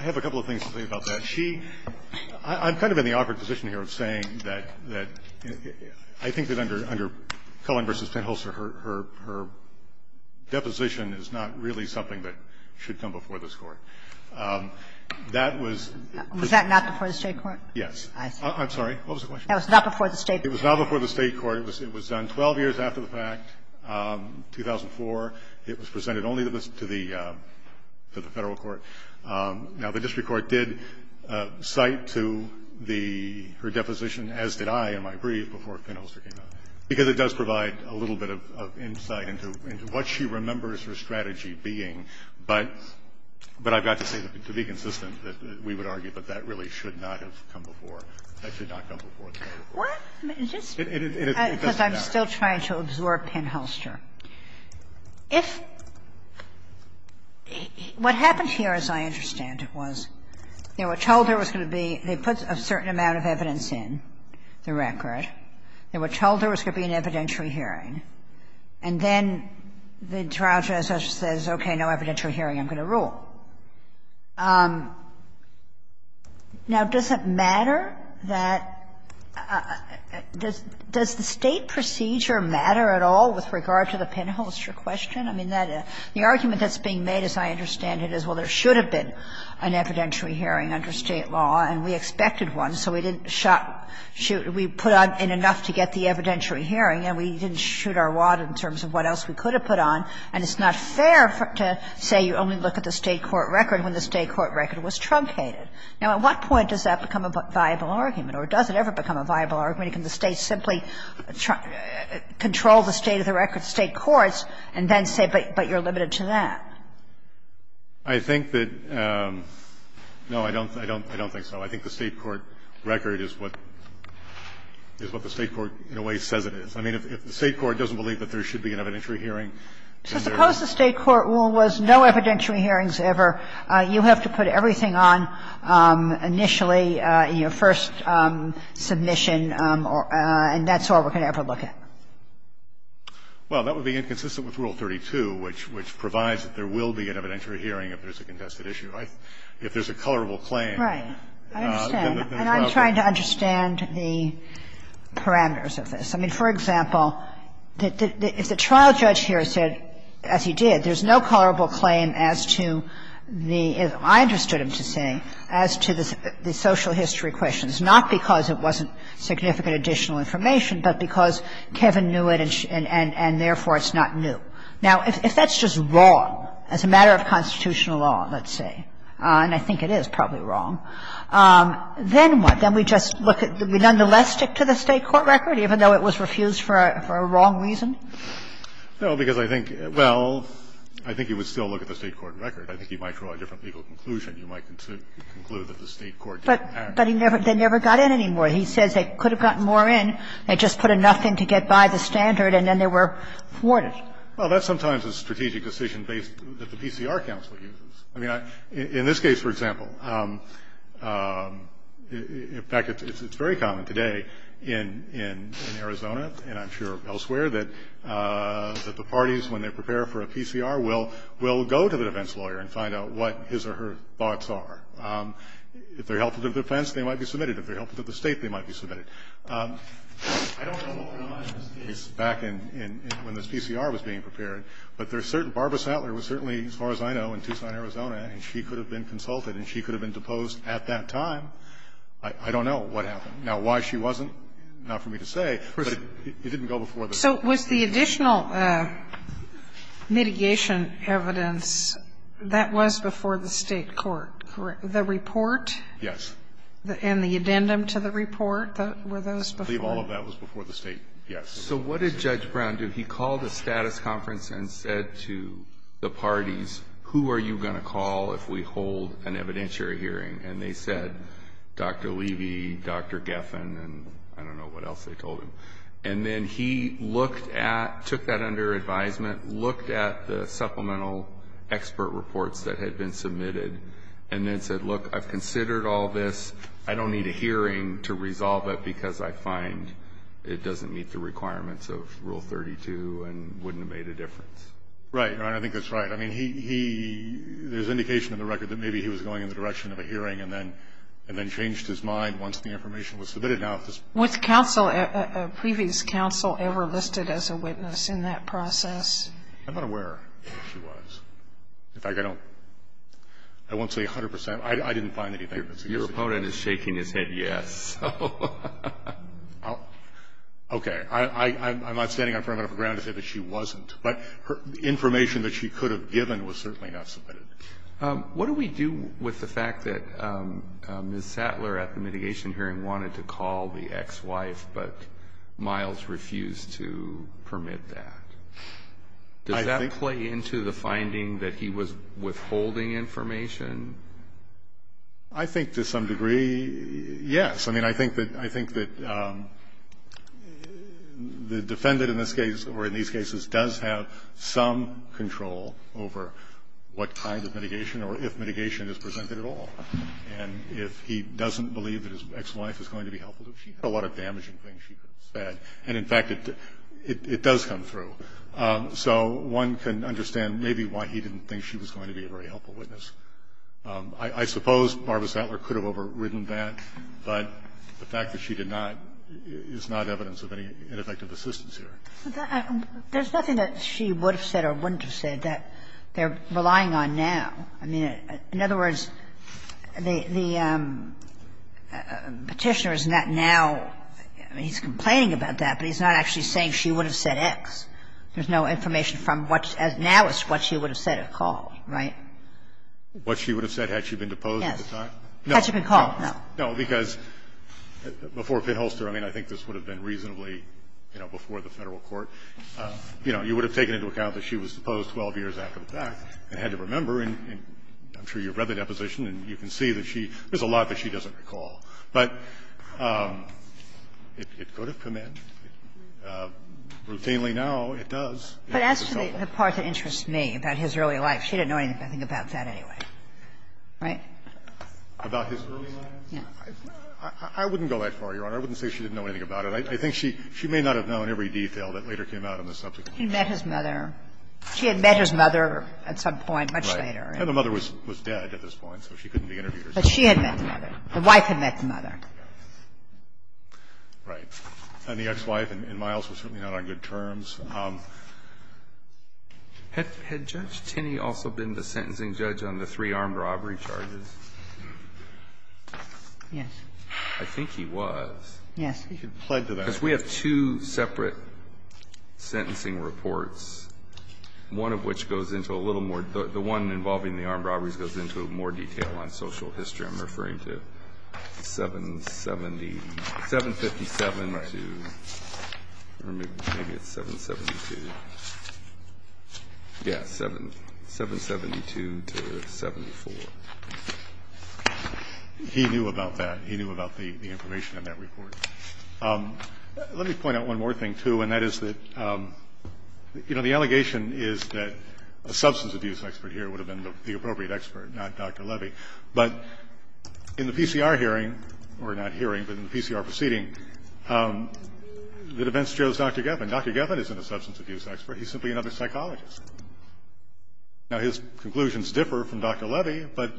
have a couple of things to say about that. She — I'm kind of in the awkward position here of saying that I think that under Cullen v. Penholzer, her deposition is not really something that should come before this Court. That was — Was that not before the State court? Yes. I'm sorry. What was the question? That was not before the State court. It was not before the State court. It was done 12 years after the fact, 2004. It was presented only to the Federal court. Now, the district court did cite to the — her deposition, as did I in my brief, before Penholzer came out, because it does provide a little bit of insight into what she remembers her strategy being, but I've got to say, to be consistent, that we would This is a question about the State court's position on penholzer's case, but I'm not going to answer it now because I'm still trying to absorb Penholzer. If — what happened here, as I understand it, was they were told there was going to be — they put a certain amount of evidence in the record. They were told there was going to be an evidentiary hearing, and then the trial judge says, okay, no evidentiary hearing, I'm going to rule. Now, does it matter that — does the State procedure matter at all with regard to the penholzer question? I mean, that — the argument that's being made, as I understand it, is, well, there should have been an evidentiary hearing under State law, and we expected one, so we didn't shot — we put on enough to get the evidentiary hearing, and we didn't shoot our wad in terms of what else we could have put on. And it's not fair to say you only look at the State court record when the State court record was truncated. Now, at what point does that become a viable argument or does it ever become a viable argument? Can the State simply control the state of the record, the State courts, and then say, but you're limited to that? I think that — no, I don't think so. I think the State court record is what the State court, in a way, says it is. I mean, if the State court doesn't believe that there should be an evidentiary hearing, then there is. Kagan. So suppose the State court rule was no evidentiary hearings ever. You have to put everything on initially, your first submission, and that's all we're going to ever look at. Well, that would be inconsistent with Rule 32, which provides that there will be an evidentiary hearing if there's a contested issue. If there's a colorable claim, then the trial judge can't do it. Right. I understand, and I'm trying to understand the parameters of this. I mean, for example, if the trial judge here said, as he did, there's no colorable claim as to the — I understood him to say — as to the social history questions, not because it wasn't significant additional information, but because Kevin knew it and therefore it's not new. Now, if that's just wrong as a matter of constitutional law, let's say, and I think it is probably wrong, then what? Then we just look at the — nonetheless stick to the State court record, even though it was refused for a wrong reason? No, because I think — well, I think you would still look at the State court record. I think you might draw a different legal conclusion. You might conclude that the State court didn't act. But he never — they never got in anymore. He says they could have gotten more in and just put enough in to get by the standard and then they were thwarted. Well, that's sometimes a strategic decision based — that the PCR counsel uses. I mean, I — in this case, for example, in fact, it's very common today in Arizona and I'm sure elsewhere that the parties, when they prepare for a PCR, will go to the defense lawyer and find out what his or her thoughts are. If they're helpful to the defense, they might be submitted. If they're helpful to the State, they might be submitted. I don't know the timeline of this case back in — when this PCR was being prepared, but there's certain — Barbara Sattler was certainly, as far as I know, in Tucson, Arizona, and she could have been consulted and she could have been deposed at that time. I don't know what happened. Now, why she wasn't, not for me to say, but it didn't go before the State. So was the additional mitigation evidence, that was before the State court, correct? The report? Yes. And the addendum to the report? Were those before? I believe all of that was before the State, yes. So what did Judge Brown do? He called a status conference and said to the parties, who are you going to call if we hold an evidentiary hearing? And they said, Dr. Levy, Dr. Geffen, and I don't know what else they told him. And then he looked at — took that under advisement, looked at the supplemental expert reports that had been submitted, and then said, look, I've considered all this. I don't need a hearing to resolve it because I find it doesn't meet the requirements of Rule 32 and wouldn't have made a difference. Right. I think that's right. I mean, he — there's indication in the record that maybe he was going in the direction of a hearing and then changed his mind once the information was submitted. Was counsel, previous counsel, ever listed as a witness in that process? I'm not aware that she was. In fact, I don't — I won't say 100 percent. I didn't find anything. Your opponent is shaking his head yes. Okay. I'm not standing on firm enough ground to say that she wasn't. But the information that she could have given was certainly not submitted. What do we do with the fact that Ms. Sattler, at the mitigation hearing, wanted to call the ex-wife, but Miles refused to permit that? Does that play into the finding that he was withholding information? I think to some degree, yes. I mean, I think that — I think that the defendant in this case, or in these cases, does have some control over what kind of mitigation or if mitigation is presented at all. And if he doesn't believe that his ex-wife is going to be helpful to him, she had a lot of damaging things she could have said. And, in fact, it does come through. So one can understand maybe why he didn't think she was going to be a very helpful witness. I suppose Barbara Sattler could have overridden that. But the fact that she did not is not evidence of any ineffective assistance here. There's nothing that she would have said or wouldn't have said that they're relying on now. I mean, in other words, the Petitioner is not now — I mean, he's complaining about that, but he's not actually saying she would have said X. There's no information from what — as now is what she would have said or called. Right? What she would have said had she been deposed at the time? Yes. Had she been called, no. No. No, because before Pitholster, I mean, I think this would have been reasonably, you know, before the Federal court, you know, you would have taken into account that she was deposed 12 years after the fact and had to remember. And I'm sure you've read the deposition, and you can see that she — there's a lot that she doesn't recall. But it could have come in. Routinely now, it does. But as for the part that interests me about his early life, she didn't know anything about that anyway, right? About his early life? No. I wouldn't go that far, Your Honor. I wouldn't say she didn't know anything about it. I think she — she may not have known every detail that later came out on the subject. He met his mother. She had met his mother at some point much later. Right. And the mother was dead at this point, so she couldn't be interviewed or something. But she had met the mother. The wife had met the mother. Right. And the ex-wife and Miles were certainly not on good terms. Had Judge Tinney also been the sentencing judge on the three armed robbery charges? Yes. I think he was. Yes. He pled to that. Because we have two separate sentencing reports, one of which goes into a little more — the one involving the armed robberies goes into more detail on social history. I'm referring to 770 — 757 to — or maybe it's 770. 772. Yes. 772 to 74. He knew about that. He knew about the information in that report. Let me point out one more thing, too, and that is that, you know, the allegation is that a substance abuse expert here would have been the appropriate expert, not Dr. Levy. But in the PCR hearing — or not hearing, but in the PCR proceeding, the defense shows Dr. Geffen. Dr. Geffen isn't a substance abuse expert. He's simply another psychologist. Now, his conclusions differ from Dr. Levy, but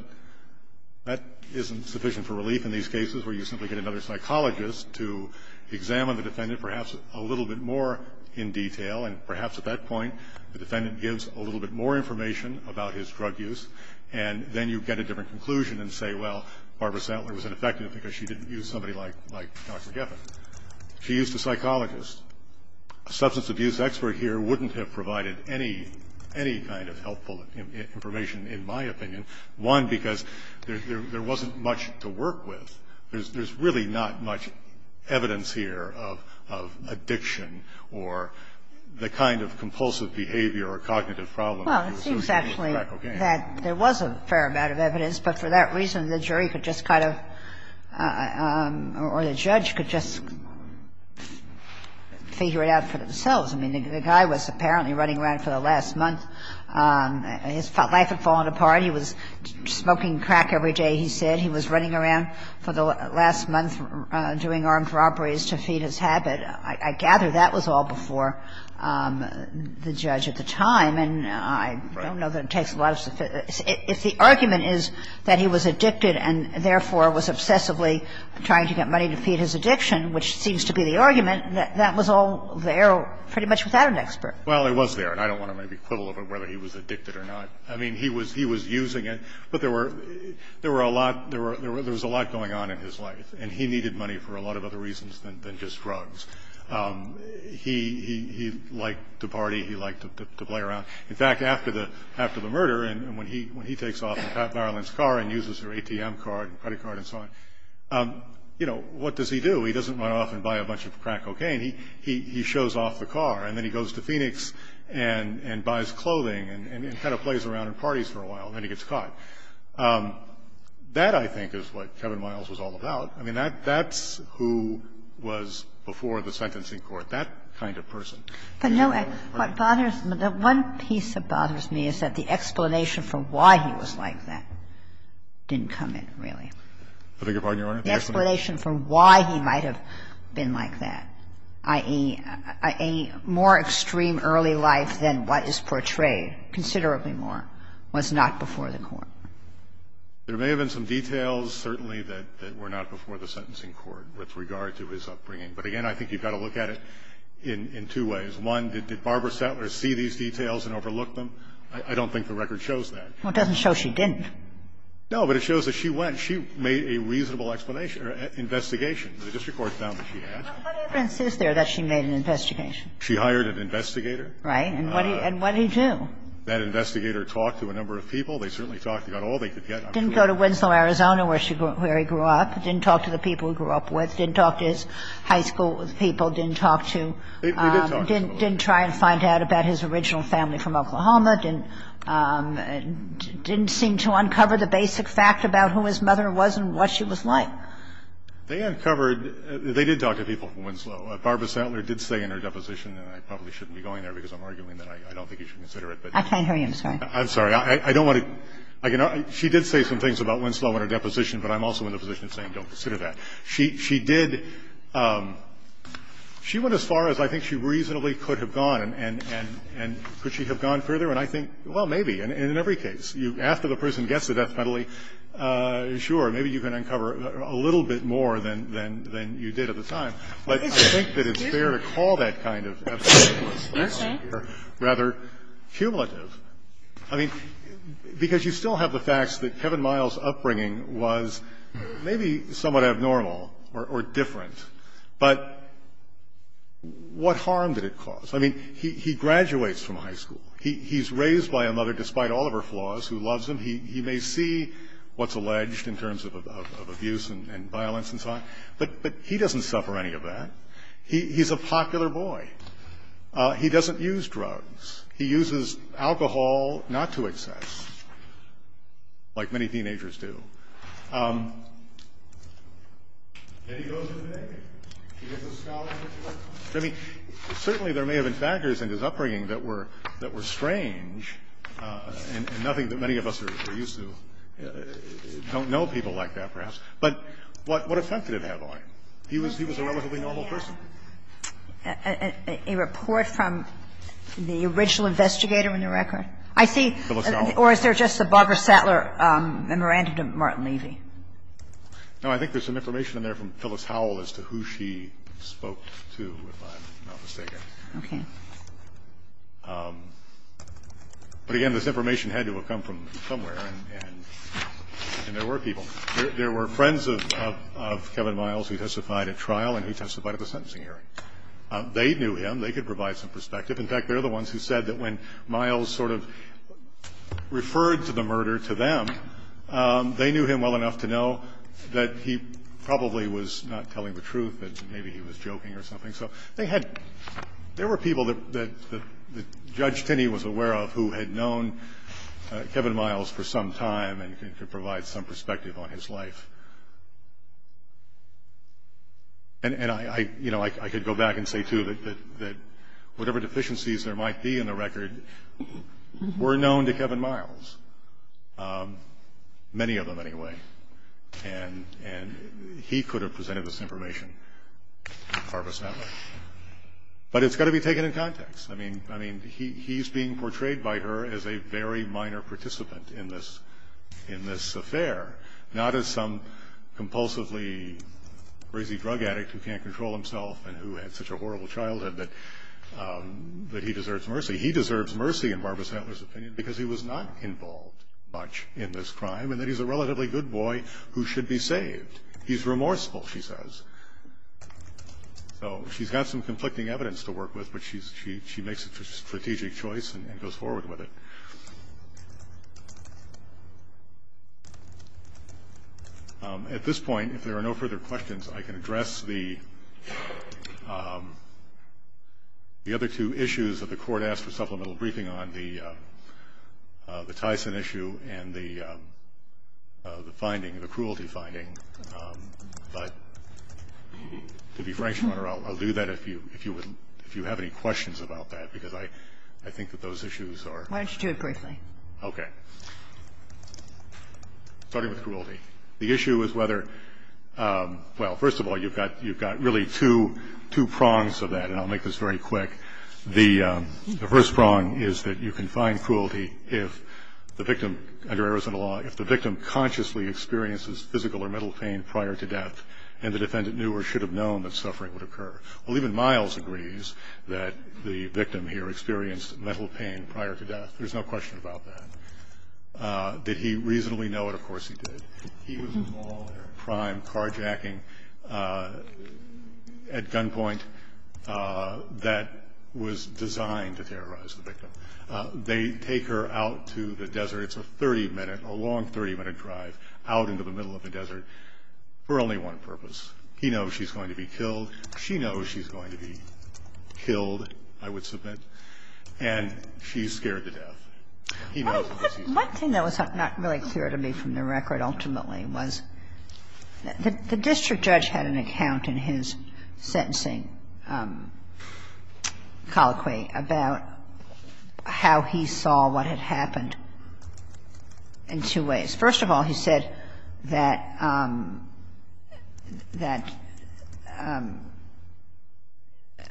that isn't sufficient for relief in these cases where you simply get another psychologist to examine the defendant perhaps a little bit more in detail. And perhaps at that point, the defendant gives a little bit more information about his drug use, and then you get a different conclusion and say, well, Barbara Sentler was ineffective because she didn't use somebody like Dr. Geffen. She used a psychologist. A substance abuse expert here wouldn't have provided any kind of helpful information in my opinion, one, because there wasn't much to work with. There's really not much evidence here of addiction or the kind of compulsive behavior or cognitive problem that you associate with crack cocaine. Well, it seems actually that there was a fair amount of evidence, but for that the judge could just figure it out for themselves. I mean, the guy was apparently running around for the last month. His life had fallen apart. He was smoking crack every day, he said. He was running around for the last month doing armed robberies to feed his habit. I gather that was all before the judge at the time, and I don't know that it takes a lot of – if the argument is that he was addicted and therefore was obsessively trying to get money to feed his addiction, which seems to be the argument, that that was all there pretty much without an expert. Well, it was there, and I don't want to maybe quibble over whether he was addicted or not. I mean, he was using it, but there were – there were a lot – there was a lot going on in his life, and he needed money for a lot of other reasons than just drugs. He liked to party. He liked to play around. In fact, after the murder, and when he takes off in Pat Marilyn's car and uses her ATM card and credit card and so on, you know, what does he do? He doesn't run off and buy a bunch of crack cocaine. He shows off the car, and then he goes to Phoenix and buys clothing and kind of plays around and parties for a while, and then he gets caught. That, I think, is what Kevin Miles was all about. I mean, that's who was before the sentencing court, that kind of person. But no, what bothers me – the one piece that bothers me is that the explanation for why he was like that didn't come in, really. The explanation for why he might have been like that, i.e., a more extreme early life than what is portrayed, considerably more, was not before the court. There may have been some details, certainly, that were not before the sentencing court with regard to his upbringing. But again, I think you've got to look at it in two ways. One, did Barbara Sattler see these details and overlook them? I don't think the record shows that. Well, it doesn't show she didn't. No, but it shows that she went. She made a reasonable explanation or investigation. The district court found that she had. What evidence is there that she made an investigation? She hired an investigator. Right. And what did he do? That investigator talked to a number of people. They certainly talked about all they could get. Didn't go to Winslow, Arizona, where he grew up. Didn't talk to the people he grew up with. Didn't talk to his high school people. Didn't talk to – He did talk to them. Didn't try and find out about his original family from Oklahoma. Didn't seem to uncover the basic fact about who his mother was and what she was like. They uncovered – they did talk to people from Winslow. Barbara Sattler did say in her deposition, and I probably shouldn't be going there because I'm arguing that I don't think you should consider it, but – I can't hear you. I'm sorry. I'm sorry. I don't want to – she did say some things about Winslow in her deposition, but I'm also in the position of saying don't consider that. She did – she went as far as I think she reasonably could have gone, and could she have gone further? And I think, well, maybe. And in every case, after the person gets the death penalty, sure, maybe you can uncover a little bit more than you did at the time. But I think that it's fair to call that kind of evidence rather cumulative. I mean, because you still have the facts that Kevin Miles' upbringing was maybe somewhat kind of normal or different, but what harm did it cause? I mean, he graduates from high school. He's raised by a mother, despite all of her flaws, who loves him. He may see what's alleged in terms of abuse and violence and so on, but he doesn't suffer any of that. He's a popular boy. He doesn't use drugs. He uses alcohol not to excess, like many teenagers do. I mean, certainly there may have been factors in his upbringing that were – that were strange and nothing that many of us are used to. Don't know people like that, perhaps. But what effect did it have on him? He was a relatively normal person. A report from the original investigator in the record? I see. Or is there just the Barbara Sattler memorandum? Martin Levy. No. I think there's some information in there from Phyllis Howell as to who she spoke to, if I'm not mistaken. Okay. But again, this information had to have come from somewhere, and there were people. There were friends of Kevin Miles who testified at trial and who testified at the sentencing hearing. They knew him. They could provide some perspective. In fact, they're the ones who said that when Miles sort of referred to the murder to them, they knew him well enough to know that he probably was not telling the truth, that maybe he was joking or something. So they had – there were people that Judge Tinney was aware of who had known Kevin Miles for some time and could provide some perspective on his life. And I – you know, I could go back and say, too, that whatever deficiencies there might be in the record were known to Kevin Miles. Many of them, anyway. And he could have presented this information to Barbara Stantler. But it's got to be taken in context. I mean, he's being portrayed by her as a very minor participant in this affair, not as some compulsively crazy drug addict who can't control himself and who had such a horrible childhood that he deserves mercy. He deserves mercy, in Barbara Stantler's opinion, because he was not involved much in this crime and that he's a relatively good boy who should be saved. He's remorseful, she says. So she's got some conflicting evidence to work with, but she makes a strategic choice and goes forward with it. At this point, if there are no further questions, I can address the other two issues that the Court asked for supplemental briefing on, the Tyson issue and the finding – the cruelty finding. But to be frank, Your Honor, I'll do that if you have any questions about that, because I think that those issues are – Why don't you do it briefly? Okay. Starting with cruelty. The issue is whether – well, first of all, you've got really two prongs of that, and I'll make this very quick. The first prong is that you can find cruelty if the victim – under Arizona law, if the victim consciously experiences physical or mental pain prior to death and the defendant knew or should have known that suffering would occur. Well, even Miles agrees that the victim here experienced mental pain prior to death. There's no question about that. Did he reasonably know it? Of course he did. He was involved in a crime, carjacking at gunpoint, that was designed to terrorize the victim. They take her out to the desert. It's a 30-minute – a long 30-minute drive out into the middle of the desert for only one purpose. He knows she's going to be killed. She knows she's going to be killed, I would submit. And she's scared to death. He knows she's going to be killed. One thing that was not really clear to me from the record ultimately was the district judge had an account in his sentencing colloquy about how he saw what had happened in two ways. First of all, he said that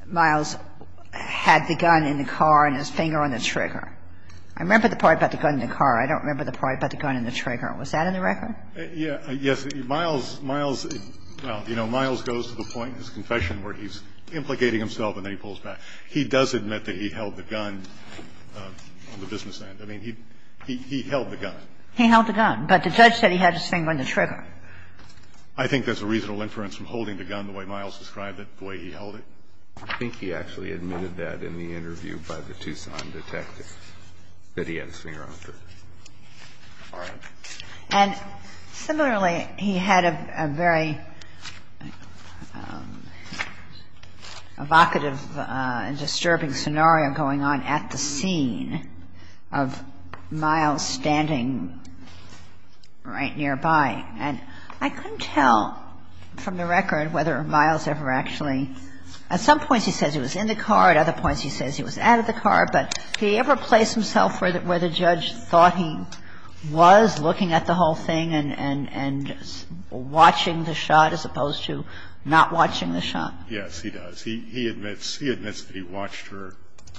Miles had the gun in the car and his finger on the trigger. I remember the part about the gun in the car. I don't remember the part about the gun and the trigger. Was that in the record? Yes. Miles, well, you know, Miles goes to the point in his confession where he's implicating himself and then he pulls back. He does admit that he held the gun on the business end. I mean, he held the gun. He held the gun, but the judge said he had his finger on the trigger. I think there's a reasonable inference from holding the gun the way Miles described it, the way he held it. I think he actually admitted that in the interview by the Tucson detective, that he had his finger on the trigger. All right. And similarly, he had a very evocative and disturbing scenario going on at the scene of Miles standing right nearby. And I couldn't tell from the record whether Miles ever actually – at some points he says he was in the car, at other points he says he was out of the car. But did he ever place himself where the judge thought he was, looking at the whole thing and watching the shot as opposed to not watching the shot? Yes, he does. He admits that he watched her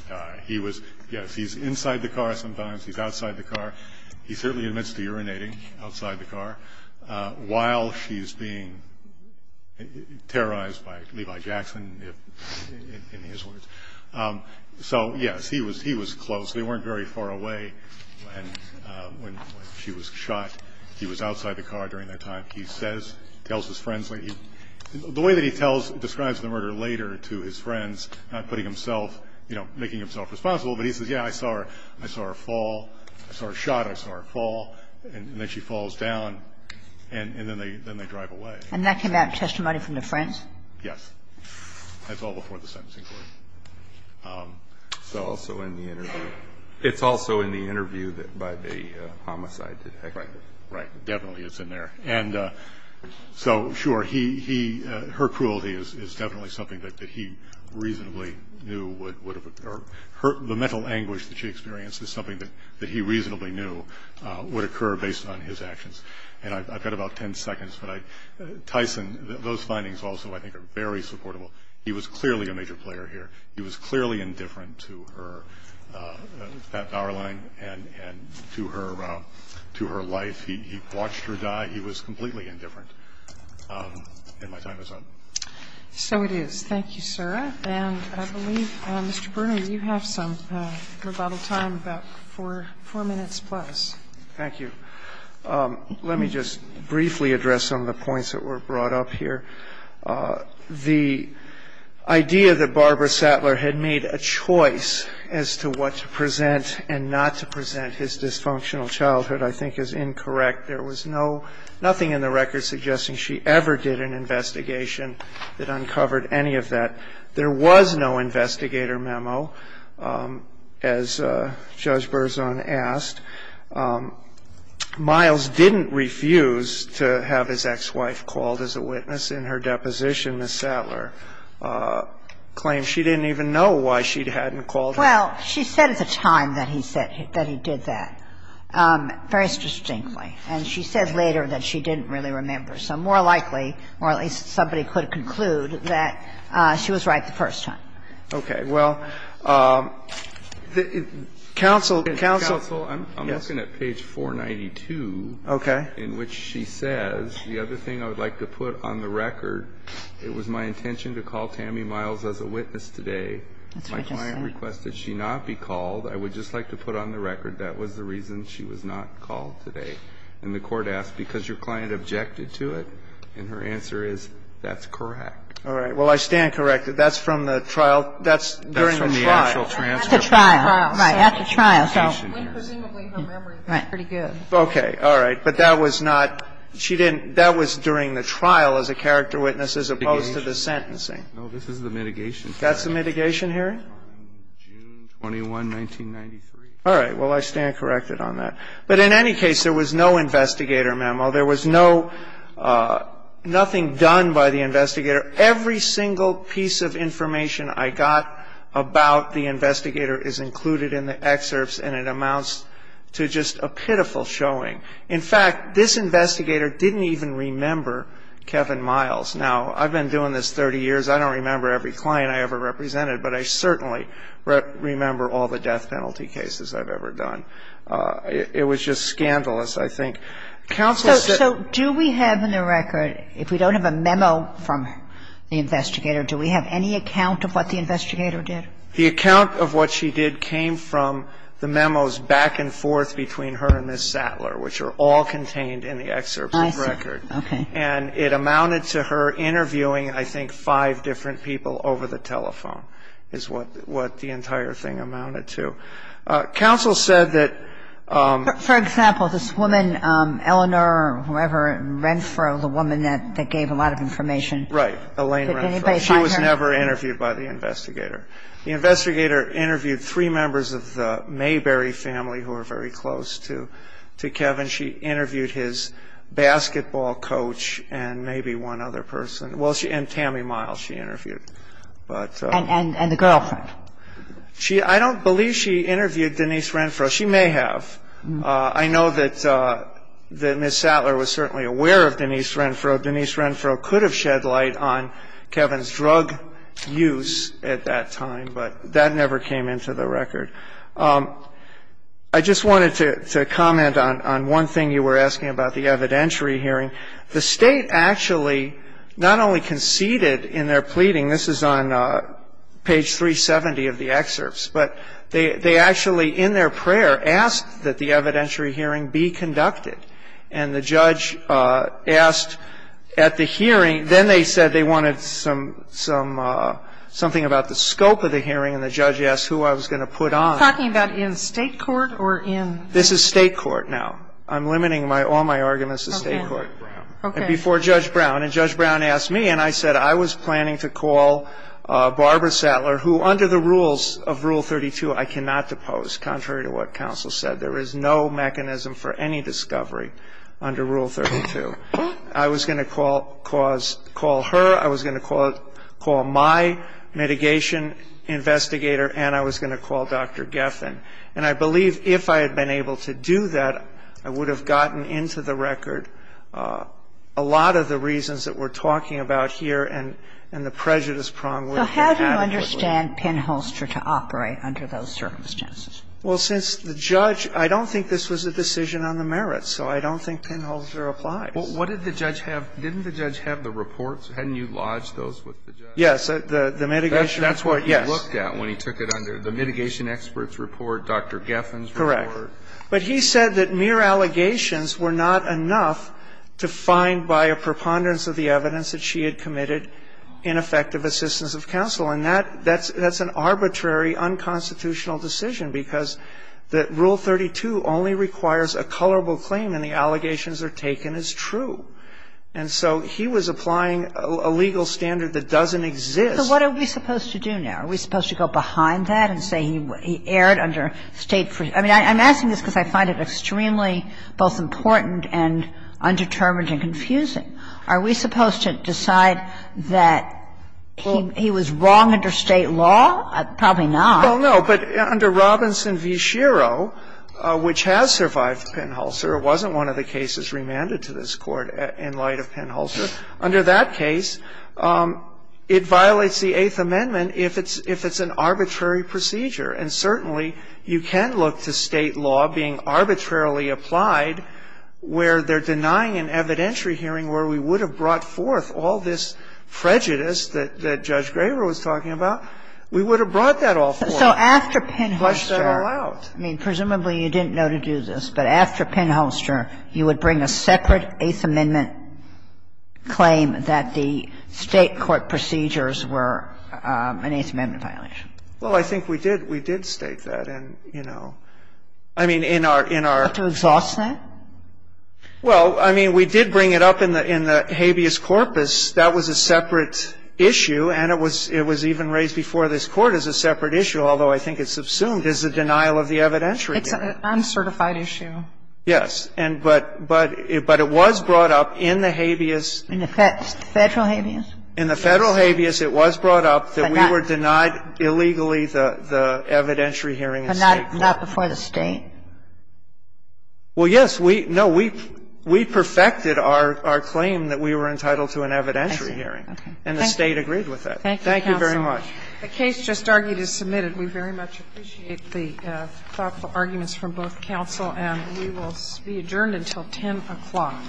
die. He was – yes, he's inside the car sometimes, he's outside the car. He certainly admits to urinating outside the car while she's being terrorized by Levi Jackson, in his words. So yes, he was close. They weren't very far away when she was shot. He was outside the car during that time. He says – tells his friends – the way that he describes the murder later to his friends, he says, yes, I saw her fall, I saw her shot, I saw her fall, and then she falls down, and then they drive away. And that came out in testimony from the friends? Yes. That's all before the sentencing court. It's also in the interview by the homicide detective. Right. Definitely, it's in there. And so, sure, he – her cruelty is definitely something that he reasonably knew would have – or the mental anguish that she experienced is something that he reasonably knew would occur based on his actions. And I've got about ten seconds, but I – Tyson, those findings also, I think, are very supportable. He was clearly a major player here. He was clearly indifferent to her – that power line and to her life. He watched her die. He was completely indifferent. And my time is up. So it is. Thank you, sir. And I believe, Mr. Bruner, you have some rebuttal time, about four minutes plus. Thank you. Let me just briefly address some of the points that were brought up here. The idea that Barbara Sattler had made a choice as to what to present and not to present his dysfunctional childhood I think is incorrect. There was no – nothing in the record suggesting she ever did an investigation that uncovered any of that. There was no investigator memo, as Judge Berzon asked. Miles didn't refuse to have his ex-wife called as a witness in her deposition. Ms. Sattler claimed she didn't even know why she hadn't called her. Well, she said at the time that he said – that he did that, very distinctly. And she said later that she didn't really remember. So more likely, or at least somebody could conclude, that she was right the first time. Okay. Well, counsel, counsel. Counsel, I'm looking at page 492. Okay. In which she says, the other thing I would like to put on the record, it was my intention to call Tammy Miles as a witness today. My client requested she not be called. I would just like to put on the record that was the reason she was not called today. And the court asked, because your client objected to it? And her answer is, that's correct. All right. Well, I stand corrected. That's from the trial. That's during the trial. That's from the actual transfer. That's a trial. Right. That's a trial. So presumably her memory was pretty good. Right. Okay. All right. But that was not – she didn't – that was during the trial as a character witness as opposed to the sentencing. No, this is the mitigation trial. That's the mitigation hearing? June 21, 1993. All right. Well, I stand corrected on that. But in any case, there was no investigator memo. There was no – nothing done by the investigator. Every single piece of information I got about the investigator is included in the excerpts, and it amounts to just a pitiful showing. In fact, this investigator didn't even remember Kevin Miles. Now, I've been doing this 30 years. I don't remember every client I ever represented, but I certainly remember all the death penalty cases I've ever done. It was just scandalous, I think. Counsel said – So do we have in the record, if we don't have a memo from the investigator, do we have any account of what the investigator did? The account of what she did came from the memos back and forth between her and Ms. Sattler, which are all contained in the excerpts of the record. I see. Okay. And it amounted to her interviewing, I think, five different people over the telephone is what the entire thing amounted to. Counsel said that – For example, this woman, Eleanor, whoever, Renfro, the woman that gave a lot of information. Right. Elaine Renfro. She was never interviewed by the investigator. The investigator interviewed three members of the Mayberry family who were very close to Kevin. She interviewed his basketball coach and maybe one other person. Well, she – and Tammy Miles she interviewed. But – And the girlfriend. I don't believe she interviewed Denise Renfro. She may have. I know that Ms. Sattler was certainly aware of Denise Renfro. Denise Renfro could have shed light on Kevin's drug use at that time, but that never came into the record. I just wanted to comment on one thing you were asking about, the evidentiary hearing. The State actually not only conceded in their pleading – I think it was on page 370 of the excerpts. But they actually, in their prayer, asked that the evidentiary hearing be conducted. And the judge asked at the hearing – then they said they wanted some – something about the scope of the hearing. And the judge asked who I was going to put on. Are you talking about in State court or in – This is State court now. I'm limiting all my arguments to State court. Okay. And before Judge Brown. And Judge Brown asked me, and I said I was planning to call Barbara Sattler, who under the rules of Rule 32 I cannot depose, contrary to what counsel said. There is no mechanism for any discovery under Rule 32. I was going to call her. I was going to call my mitigation investigator. And I was going to call Dr. Geffen. And I believe if I had been able to do that, I would have gotten into the record a lot of the reasons that we're talking about here and the prejudice prong would have been adequate. So how do you understand Penholster to operate under those circumstances? Well, since the judge – I don't think this was a decision on the merits, so I don't think Penholster applied. Well, what did the judge have? Didn't the judge have the reports? Hadn't you lodged those with the judge? Yes. The mitigation report, yes. That's what he looked at when he took it under. The mitigation expert's report, Dr. Geffen's report. Correct. But he said that mere allegations were not enough to find by a preponderance of the evidence that she had committed ineffective assistance of counsel. And that's an arbitrary, unconstitutional decision, because that Rule 32 only requires a colorable claim and the allegations are taken as true. And so he was applying a legal standard that doesn't exist. So what are we supposed to do now? Are we supposed to go behind that and say he erred under State – I mean, I'm asking this because I find it extremely both important and undetermined and confusing. Are we supposed to decide that he was wrong under State law? Probably not. Well, no. But under Robinson v. Schiro, which has survived Penholster, it wasn't one of the cases remanded to this Court in light of Penholster. Under that case, it violates the Eighth Amendment if it's an arbitrary procedure. And certainly, you can look to State law being arbitrarily applied where they're denying an evidentiary hearing where we would have brought forth all this prejudice that Judge Graver was talking about. We would have brought that all forth. So after Penholster, I mean, presumably you didn't know to do this, but after Penholster, you would bring a separate Eighth Amendment claim that the State court procedures were an Eighth Amendment violation. Well, I think we did. We did state that. And, you know, I mean, in our – in our – To exhaust that? Well, I mean, we did bring it up in the habeas corpus. That was a separate issue, and it was even raised before this Court as a separate issue, although I think it's assumed as a denial of the evidentiary hearing. It's an uncertified issue. Yes. And but – but it was brought up in the habeas. In the federal habeas? In the federal habeas, it was brought up that we were denied illegally the evidentiary hearing in State court. But not before the State? Well, yes. No, we perfected our claim that we were entitled to an evidentiary hearing. And the State agreed with that. Thank you, counsel. Thank you very much. The case just argued is submitted. We very much appreciate the thoughtful arguments from both counsel. And we will be adjourned until 10 o'clock.